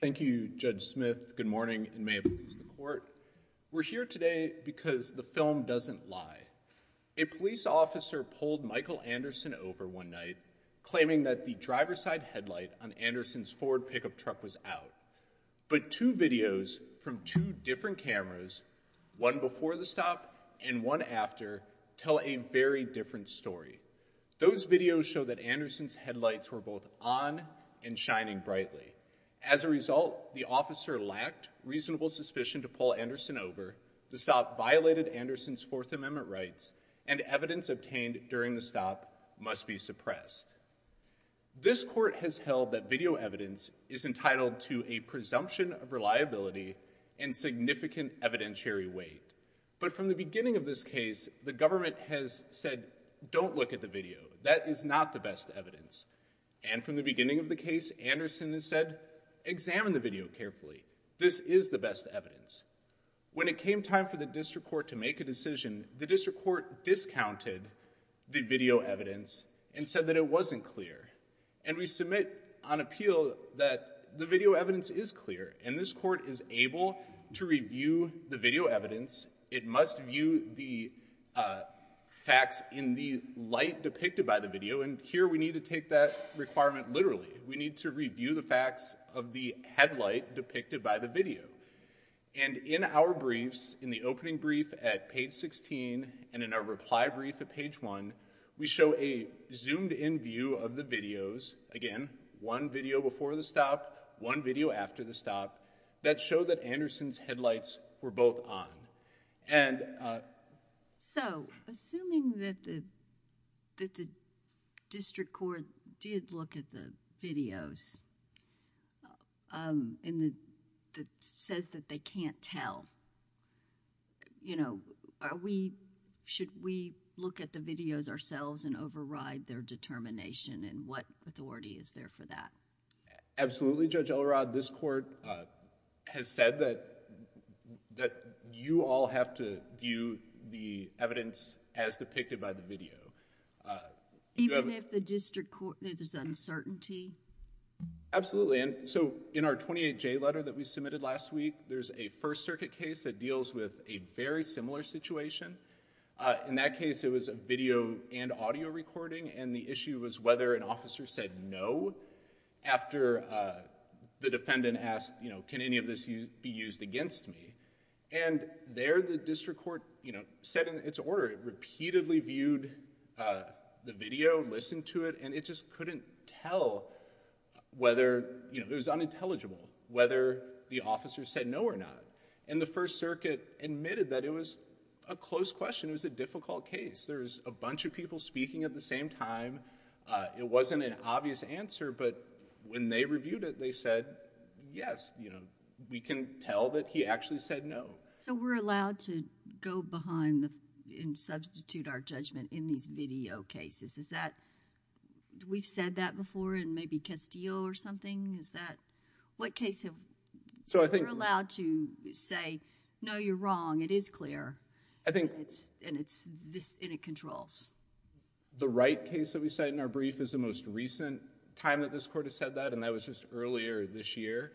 Thank you, Judge Smith. Good morning, and may it please the Court. We're here today because the film doesn't lie. A police officer pulled Michael Anderson over one night, claiming that the driver's side headlight on Anderson's Ford pickup truck was out. But two videos from two different cameras, one before the stop and one after, tell a very different story. Those videos show that Anderson's headlights were both on and shining brightly. As a result, the officer lacked reasonable suspicion to pull Anderson over. The stop violated Anderson's Fourth Amendment rights, and evidence obtained during the stop must be suppressed. This court has held that video liability in significant evidentiary weight. But from the beginning of this case, the government has said, don't look at the video. That is not the best evidence. And from the beginning of the case, Anderson has said, examine the video carefully. This is the best evidence. When it came time for the district court to make a decision, the district court discounted the video evidence and said that it wasn't clear. And we submit on appeal that the video evidence is clear. And this court is able to review the video evidence. It must view the facts in the light depicted by the video. And here we need to take that requirement literally. We need to review the facts of the headlight depicted by the video. And in our briefs, in the opening brief at page 16, and in our reply brief at page one, we show a zoomed-in view of the videos. Again, one video before the stop, one video after the stop, that showed that Anderson's headlights were both on. And, uh... So, assuming that the, that the district court did look at the videos, um, and the, that says that they can't tell, you know, are we, should we look at the videos ourselves and Absolutely, Judge Elrod. This court, uh, has said that, that you all have to view the evidence as depicted by the video. Uh... Even if the district court, there's uncertainty? Absolutely. And so, in our 28J letter that we submitted last week, there's a First Circuit case that deals with a very similar situation. Uh, in that case, it was a video and audio recording, and the issue was whether an officer said no after, uh, the defendant asked, you know, can any of this be used against me? And there, the district court, you know, said in its order, repeatedly viewed, uh, the video, listened to it, and it just couldn't tell whether, you know, it was unintelligible, whether the officer said no or not. And the First Circuit admitted that it was a close question. It was a difficult case. There was a bunch of people speaking at the same time. Uh, it wasn't an obvious answer, but when they reviewed it, they said, yes, you know, we can tell that he actually said no. So, we're allowed to go behind the, and substitute our judgment in these video cases? Is that, we've said that before in maybe Castillo or something? Is that, what case have... So, I think... I think... It's, and it's, this, and it controls. The right case that we cite in our brief is the most recent time that this court has said that, and that was just earlier this year.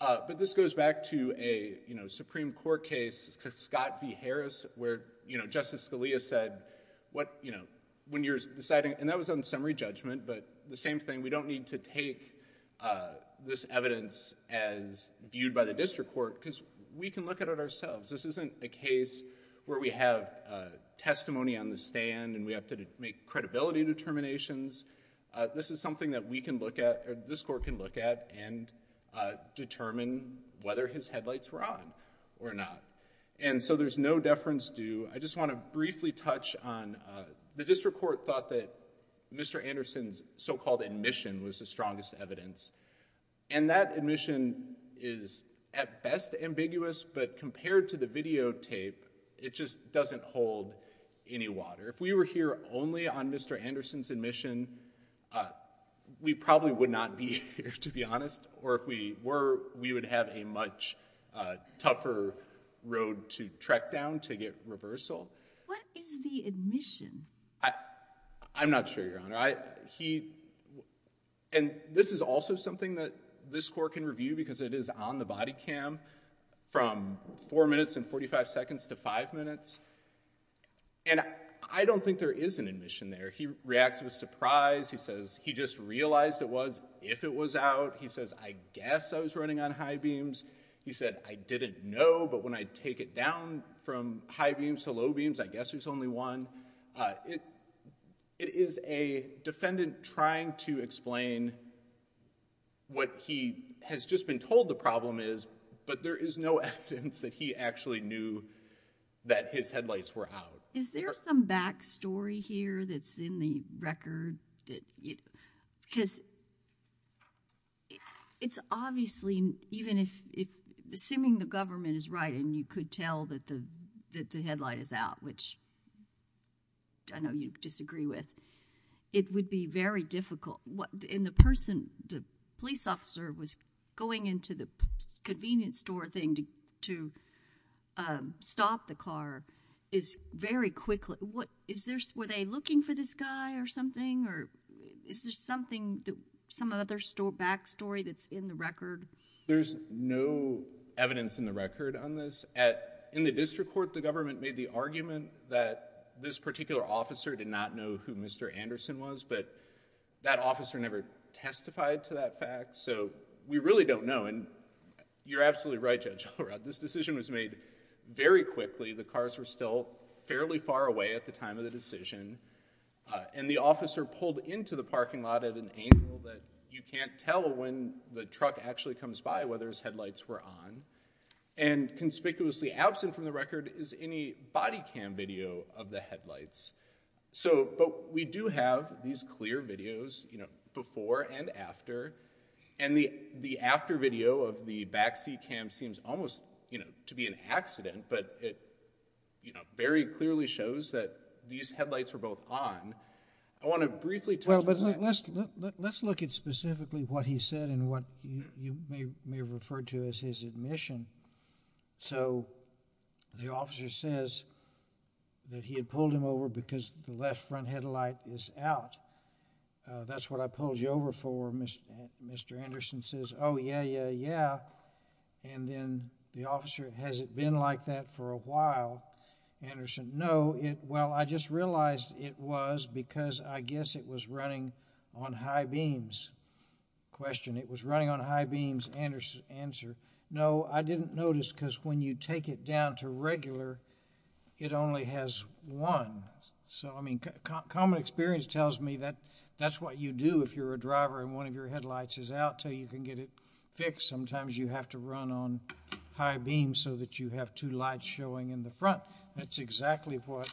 Uh, but this goes back to a, you know, Supreme Court case, Scott v. Harris, where, you know, Justice Scalia said, what, you know, when you're deciding, and that was on summary judgment, but the same thing, we don't need to take, uh, this evidence as viewed by the district court, because we can look at it ourselves. This isn't a case where we have, uh, testimony on the stand, and we have to make credibility determinations. Uh, this is something that we can look at, or this court can look at, and, uh, determine whether his headlights were on or not. And so, there's no deference due. I just want to briefly touch on, uh, the district court thought that Mr. Anderson's so-called admission was the strongest evidence, and that admission is at best ambiguous, but compared to the videotape, it just doesn't hold any water. If we were here only on Mr. Anderson's admission, uh, we probably would not be here, to be honest, or if we were, we would have a much, uh, tougher road to trek down to get reversal. What is the admission? I, I'm not sure, Your Honor. I, he, and this is also something that this court can review, because it is on the body cam from four minutes and 45 seconds to five minutes, and I don't think there is an admission there. He reacts with surprise. He says, he just realized it was, if it was out. He says, I guess I was running on high beams. He said, I didn't know, but when I take it down from high beams to low beams, I guess there's only one. Uh, it, it is a defendant trying to explain what he has just been told the problem is, but there is no evidence that he actually knew that his headlights were out. Is there some backstory here that's in the record that you, because it's obviously, even if, if, assuming the government is right and you could tell that the, that the headlight is out, which I know you disagree with, it would be very difficult. What, and the person, the police officer was going into the convenience store thing to, to, um, stop the car is very quickly, what, is there, were they looking for this guy or something, or is there something that, some other store, backstory that's in the record? There's no evidence in the record on this. At, in the district court, the government made the argument that this particular officer did not know who Mr. Anderson was, but that officer never testified to that fact. So we really don't know. And you're absolutely right, Judge Allred, this decision was made very quickly. The cars were still fairly far away at the time of the decision. Uh, and the officer pulled into the parking lot at an angle that you can't tell when the truck actually comes by, whether his headlights were on. And conspicuously absent from the record is any body cam video of the headlights. So, but we do have these clear videos, you know, before and after. And the, the after video of the backseat cam seems almost, you know, to be an accident, but it, you know, very clearly shows that these headlights were both on. I want to briefly touch on that. Well, but let's look, let's look at specifically what he said and what you may, may have referred to as his admission. So the officer says that he had pulled him over because the left front headlight is out. Uh, that's what I pulled you over for, Mr. Anderson says, oh yeah, yeah, yeah. And then the officer, has it been like that for a while? Anderson, no. It, well, I just realized it was because I guess it was running on high beams. Question, it was running on high beams, Anderson, answer, no, I didn't notice because when you take it down to regular, it only has one. So, I mean, common experience tells me that that's what you do if you're a driver and one of your headlights is out till you can get it fixed. Sometimes you have to run on high beams so that you have two lights showing in the front. That's exactly what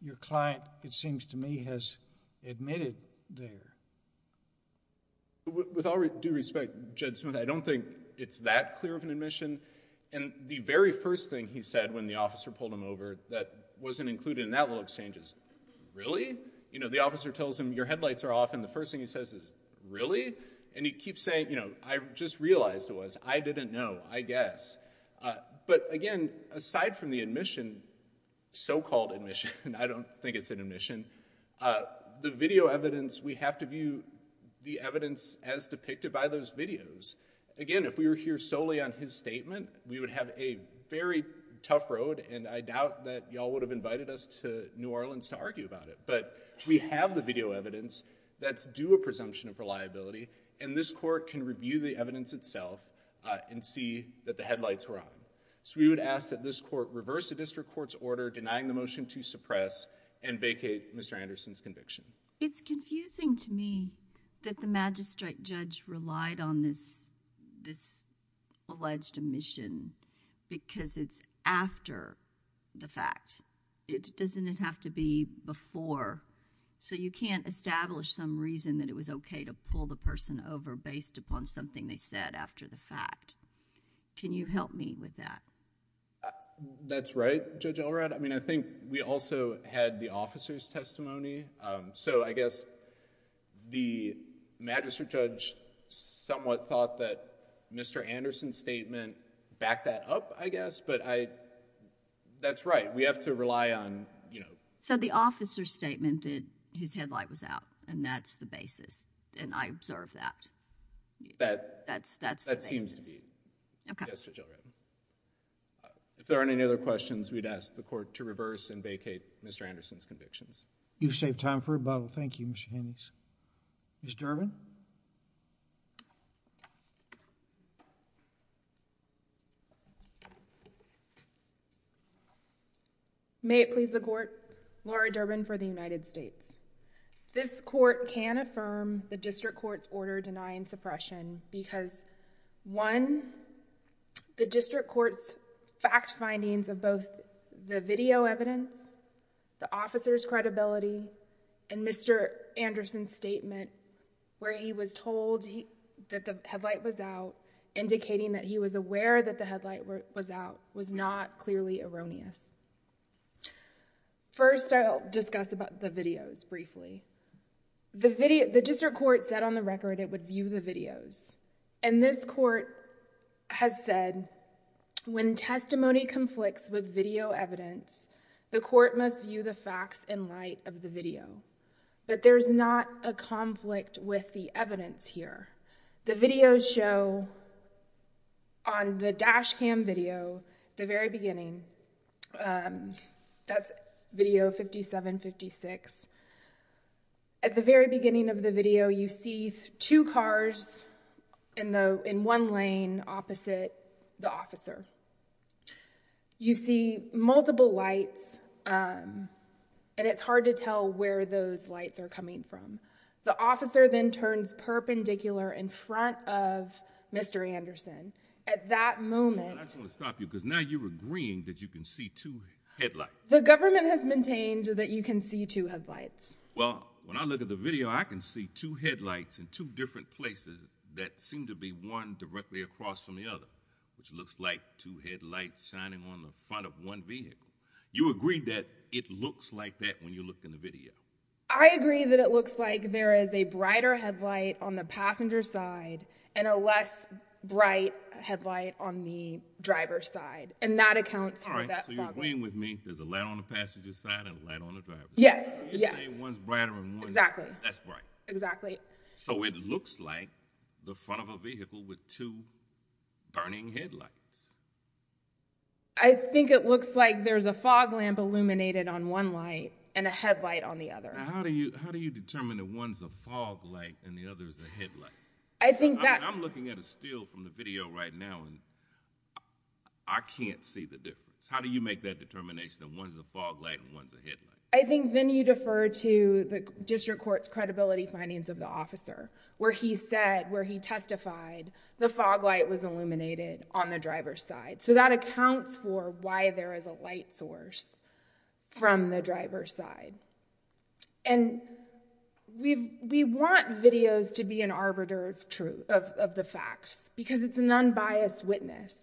your client, it seems to me, has admitted there. With all due respect, Jed Smith, I don't think it's that clear of an admission. And the very first thing he said when the officer pulled him over that wasn't included in that little exchange is, really? You know, the officer tells him your headlights are off and the first thing he says is, really? And he keeps saying, you know, I just realized it was. I didn't know, I guess. But again, aside from the admission, so-called admission, I don't think it's an admission, the video evidence, we have to view the evidence as depicted by those videos. Again, if we were here solely on his statement, we would have a very tough road and I doubt that y'all would have invited us to New Orleans to argue about it. But we have the evidence itself and see that the headlights were on. So we would ask that this court reverse the district court's order denying the motion to suppress and vacate Mr. Anderson's conviction. It's confusing to me that the magistrate judge relied on this alleged admission because it's after the fact. It doesn't have to be before. So you can't establish some reason that it was okay to pull the person over based upon something they said after the fact. Can you help me with that? That's right, Judge Elrod. I mean, I think we also had the officer's testimony. So I guess the magistrate judge somewhat thought that Mr. Anderson's statement backed that up, I guess. But that's right. We have to rely on, you know... So the officer's statement that his headlight was out, and that's the basis, and I observed that. That seems to be it, Judge Elrod. If there aren't any other questions, we'd ask the court to reverse and vacate Mr. Anderson's convictions. You've saved time for a bottle. Thank you, Mr. Hannes. Ms. Durbin? May it please the court, Laura Durbin for the United States. This court can affirm the district court's order denying suppression because one, the district court's fact findings of both the video and the testimony were not clear. And two, the district court's testimony where he was told that the headlight was out, indicating that he was aware that the headlight was out, was not clearly erroneous. First, I'll discuss about the videos briefly. The district court said on the record it would view the videos. And this court has said, when testimony conflicts with video evidence, the court must view the facts in light of the video. But there's not a conflict with the evidence here. The videos show on the dash cam video, the very beginning, that's video 5756. At the very beginning of the video, you see two cars in one lane opposite the officer. You see multiple lights, and it's hard to tell where those lights are coming from. The officer then turns perpendicular in front of Mr. Anderson. At that moment— I just want to stop you because now you're agreeing that you can see two headlights. The government has maintained that you can see two headlights. Well, when I look at the video, I can see two headlights in two different places that seem to be one directly across from the other, which looks like two headlights shining on the front of one vehicle. You agree that it looks like that when you look in the video? I agree that it looks like there is a brighter headlight on the passenger side and a less bright headlight on the driver's side, and that accounts for that fog light. So you're agreeing with me there's a light on the passenger side and a light on the driver's side? Yes, yes. You're saying one's brighter and one's— Exactly. That's bright. Exactly. So it looks like the front of a vehicle with two burning headlights. I think it looks like there's a fog lamp illuminated on one light and a headlight on the other. How do you determine that one's a fog light and the other's a headlight? I think that— I'm looking at a still from the video right now, and I can't see the difference. How do you make that determination that one's a fog light and one's a headlight? I think then you defer to the district court's credibility findings of the officer, where he said, where he testified the fog light was illuminated on the driver's side. So that accounts for why there is a light source from the driver's side. And we want videos to be an arbiter of the facts because it's an unbiased witness.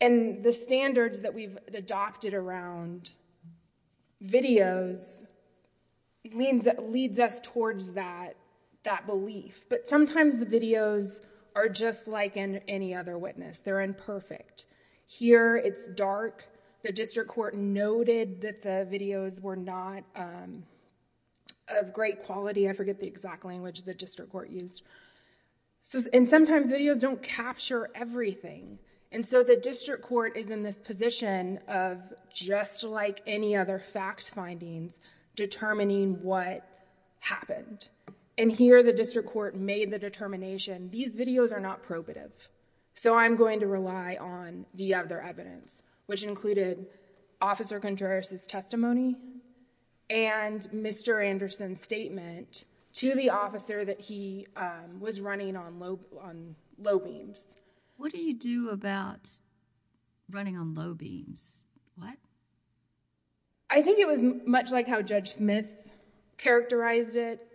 And the standards that we've adopted around videos leads us towards that belief. But sometimes the videos are just like any other witness. They're imperfect. Here it's dark. The district court noted that the videos were not of great quality. I forget the exact language the district court used. And sometimes videos don't capture everything. And so the district court is in this position of, just like any other fact findings, determining what happened. And here the district court made the determination, these videos are not probative. So I'm going to rely on the other evidence, which included Officer Contreras' testimony and Mr. Anderson's statement to the officer that he was running on low beams. What do you do about running on low beams? What? I think it was much like how Judge Smith characterized it.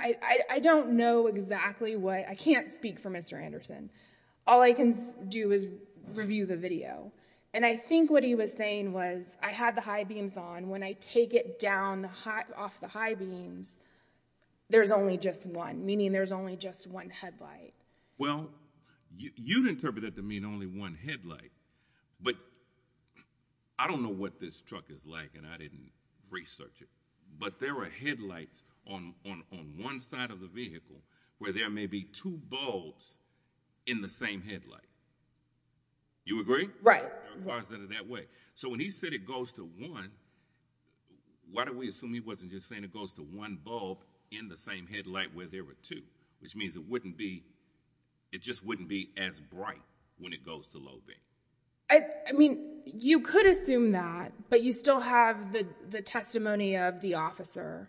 I don't know exactly what—I can't speak for Mr. Anderson. All I can do is review the video. And I think what he was saying was, I had the high beams on. When I take it down off the high beams, there's only just one, meaning there's only just one headlight. Well, you'd interpret that to mean only one headlight. But I don't know what this truck is like, and I didn't research it. But there are headlights on one side of the vehicle where there may be two bulbs in the same headlight. You agree? Right. There are cars that are that way. So when he said it goes to one, why don't we assume he wasn't just saying it goes to one bulb in the same headlight where there were two? Which means it wouldn't be, it just wouldn't be as bright when it goes to low beam. I mean, you could assume that, but you still have the testimony of the officer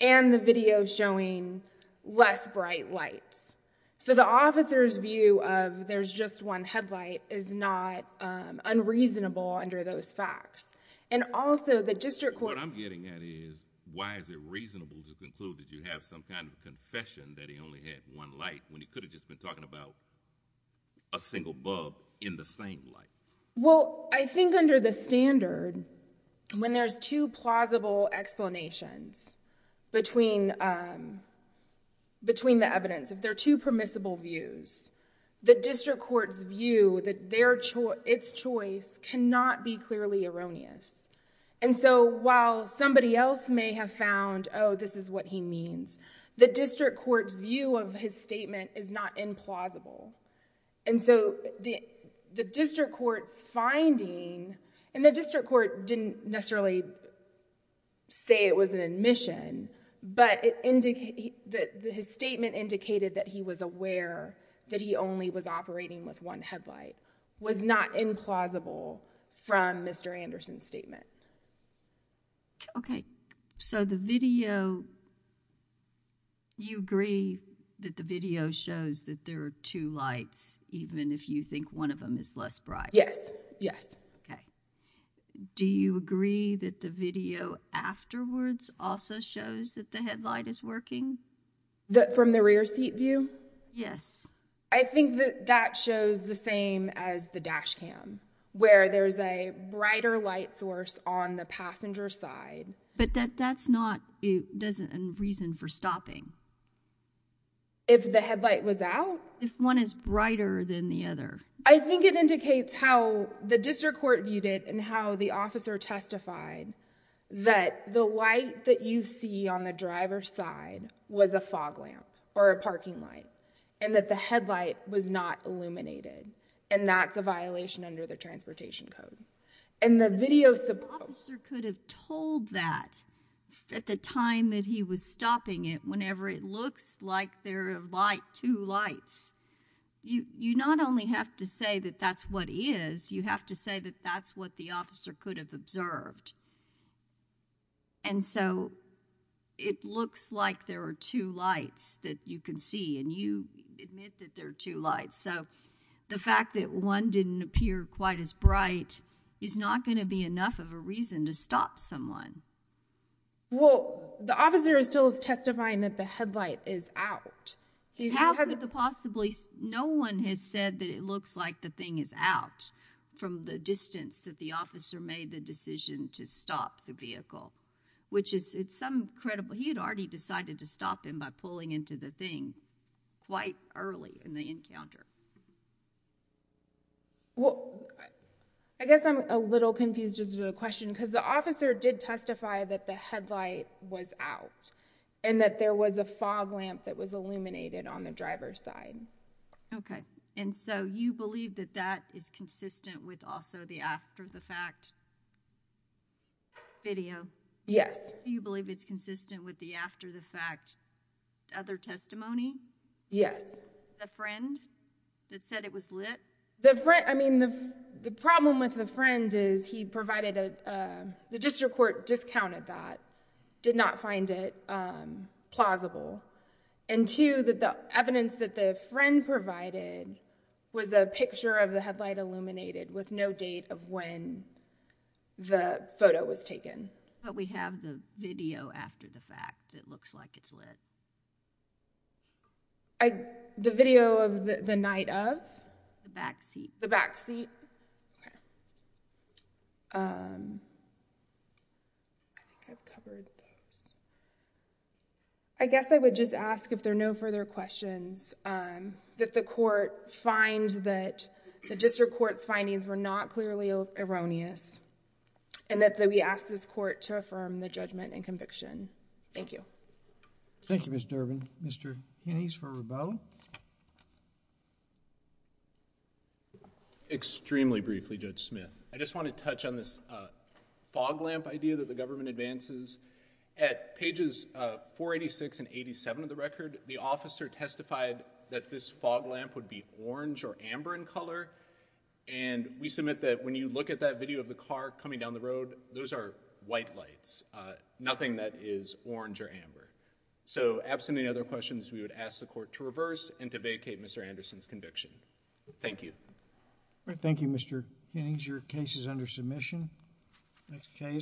and the video showing less bright lights. So the officer's view of there's just one headlight is not unreasonable under those facts. And also, the district court— What I'm getting at is, why is it reasonable to conclude that you have some kind of confession that he only had one light when he could have just been talking about a single bulb in the same light? Well, I think under the standard, when there's two plausible explanations between the evidence, if there are two permissible views, the district court's view that its choice cannot be clearly erroneous. And so while somebody else may have found, oh, this is what he means, the district court's view of his statement is not implausible. And so the district court's finding, and the district court didn't necessarily say it was an admission, but his statement indicated that he was aware that he only was operating with one headlight was not implausible from Mr. Anderson's statement. Okay. So the video, you agree that the video shows that there are two lights, even if you think one of them is less bright? Yes. Yes. Okay. Do you agree that the video afterwards also shows that the headlight is working? From the rear seat view? Yes. I think that that shows the same as the dash cam, where there's a brighter light source on the passenger side. But that's not a reason for stopping. If the headlight was out? If one is brighter than the other. I think it indicates how the district court viewed it and how the officer testified that the light that you see on the driver's side was a fog lamp or a parking light, and that the headlight was not illuminated. And that's a violation under the transportation code. And the video... But the officer could have told that at the time that he was stopping it, whenever it looks like there are two lights. You not only have to say that that's what is, you have to say that that's what the officer could have observed. And so it looks like there are two lights that you can see, and you admit that there are two lights. So the fact that one didn't appear quite as bright is not going to be enough of a reason to stop someone. Well, the officer is still testifying that the headlight is out. No one has said that it looks like the thing is out from the distance that the officer made the decision to stop the vehicle, which is some credible... He had already decided to stop him by pulling into the thing quite early in the encounter. I guess I'm a little confused as to the question, because the officer did testify that the headlight was out and that there was a fog lamp that was illuminated on the driver's side. Okay. And so you believe that that is consistent with also the after-the-fact video? Yes. You believe it's consistent with the after-the-fact other testimony? Yes. The friend? That said it was lit? I mean, the problem with the friend is he provided a... The district court discounted that, did not find it plausible. And two, that the evidence that the friend provided was a picture of the headlight illuminated with no date of when the photo was taken. But we have the video after the fact that looks like it's lit. The video of the night of? The backseat. The backseat. I guess I would just ask if there are no further questions, that the court finds that the district court's findings were not clearly erroneous and that we ask this court to affirm the judgment and conviction. Thank you. Thank you, Mr. Durbin. Mr. Hinnies for Rabeau? Extremely briefly, Judge Smith. I just want to touch on this fog lamp idea that the government advances. At pages 486 and 87 of the record, the officer testified that this fog lamp would be orange or amber in color. And we submit that when you look at that video of the car coming down the road, those are white lights. Nothing that is orange or amber. So, absent any other questions, we would ask the court to reverse and to vacate Mr. Anderson's conviction. Thank you. Thank you, Mr. Hinnies. Your case is under submission. Next case.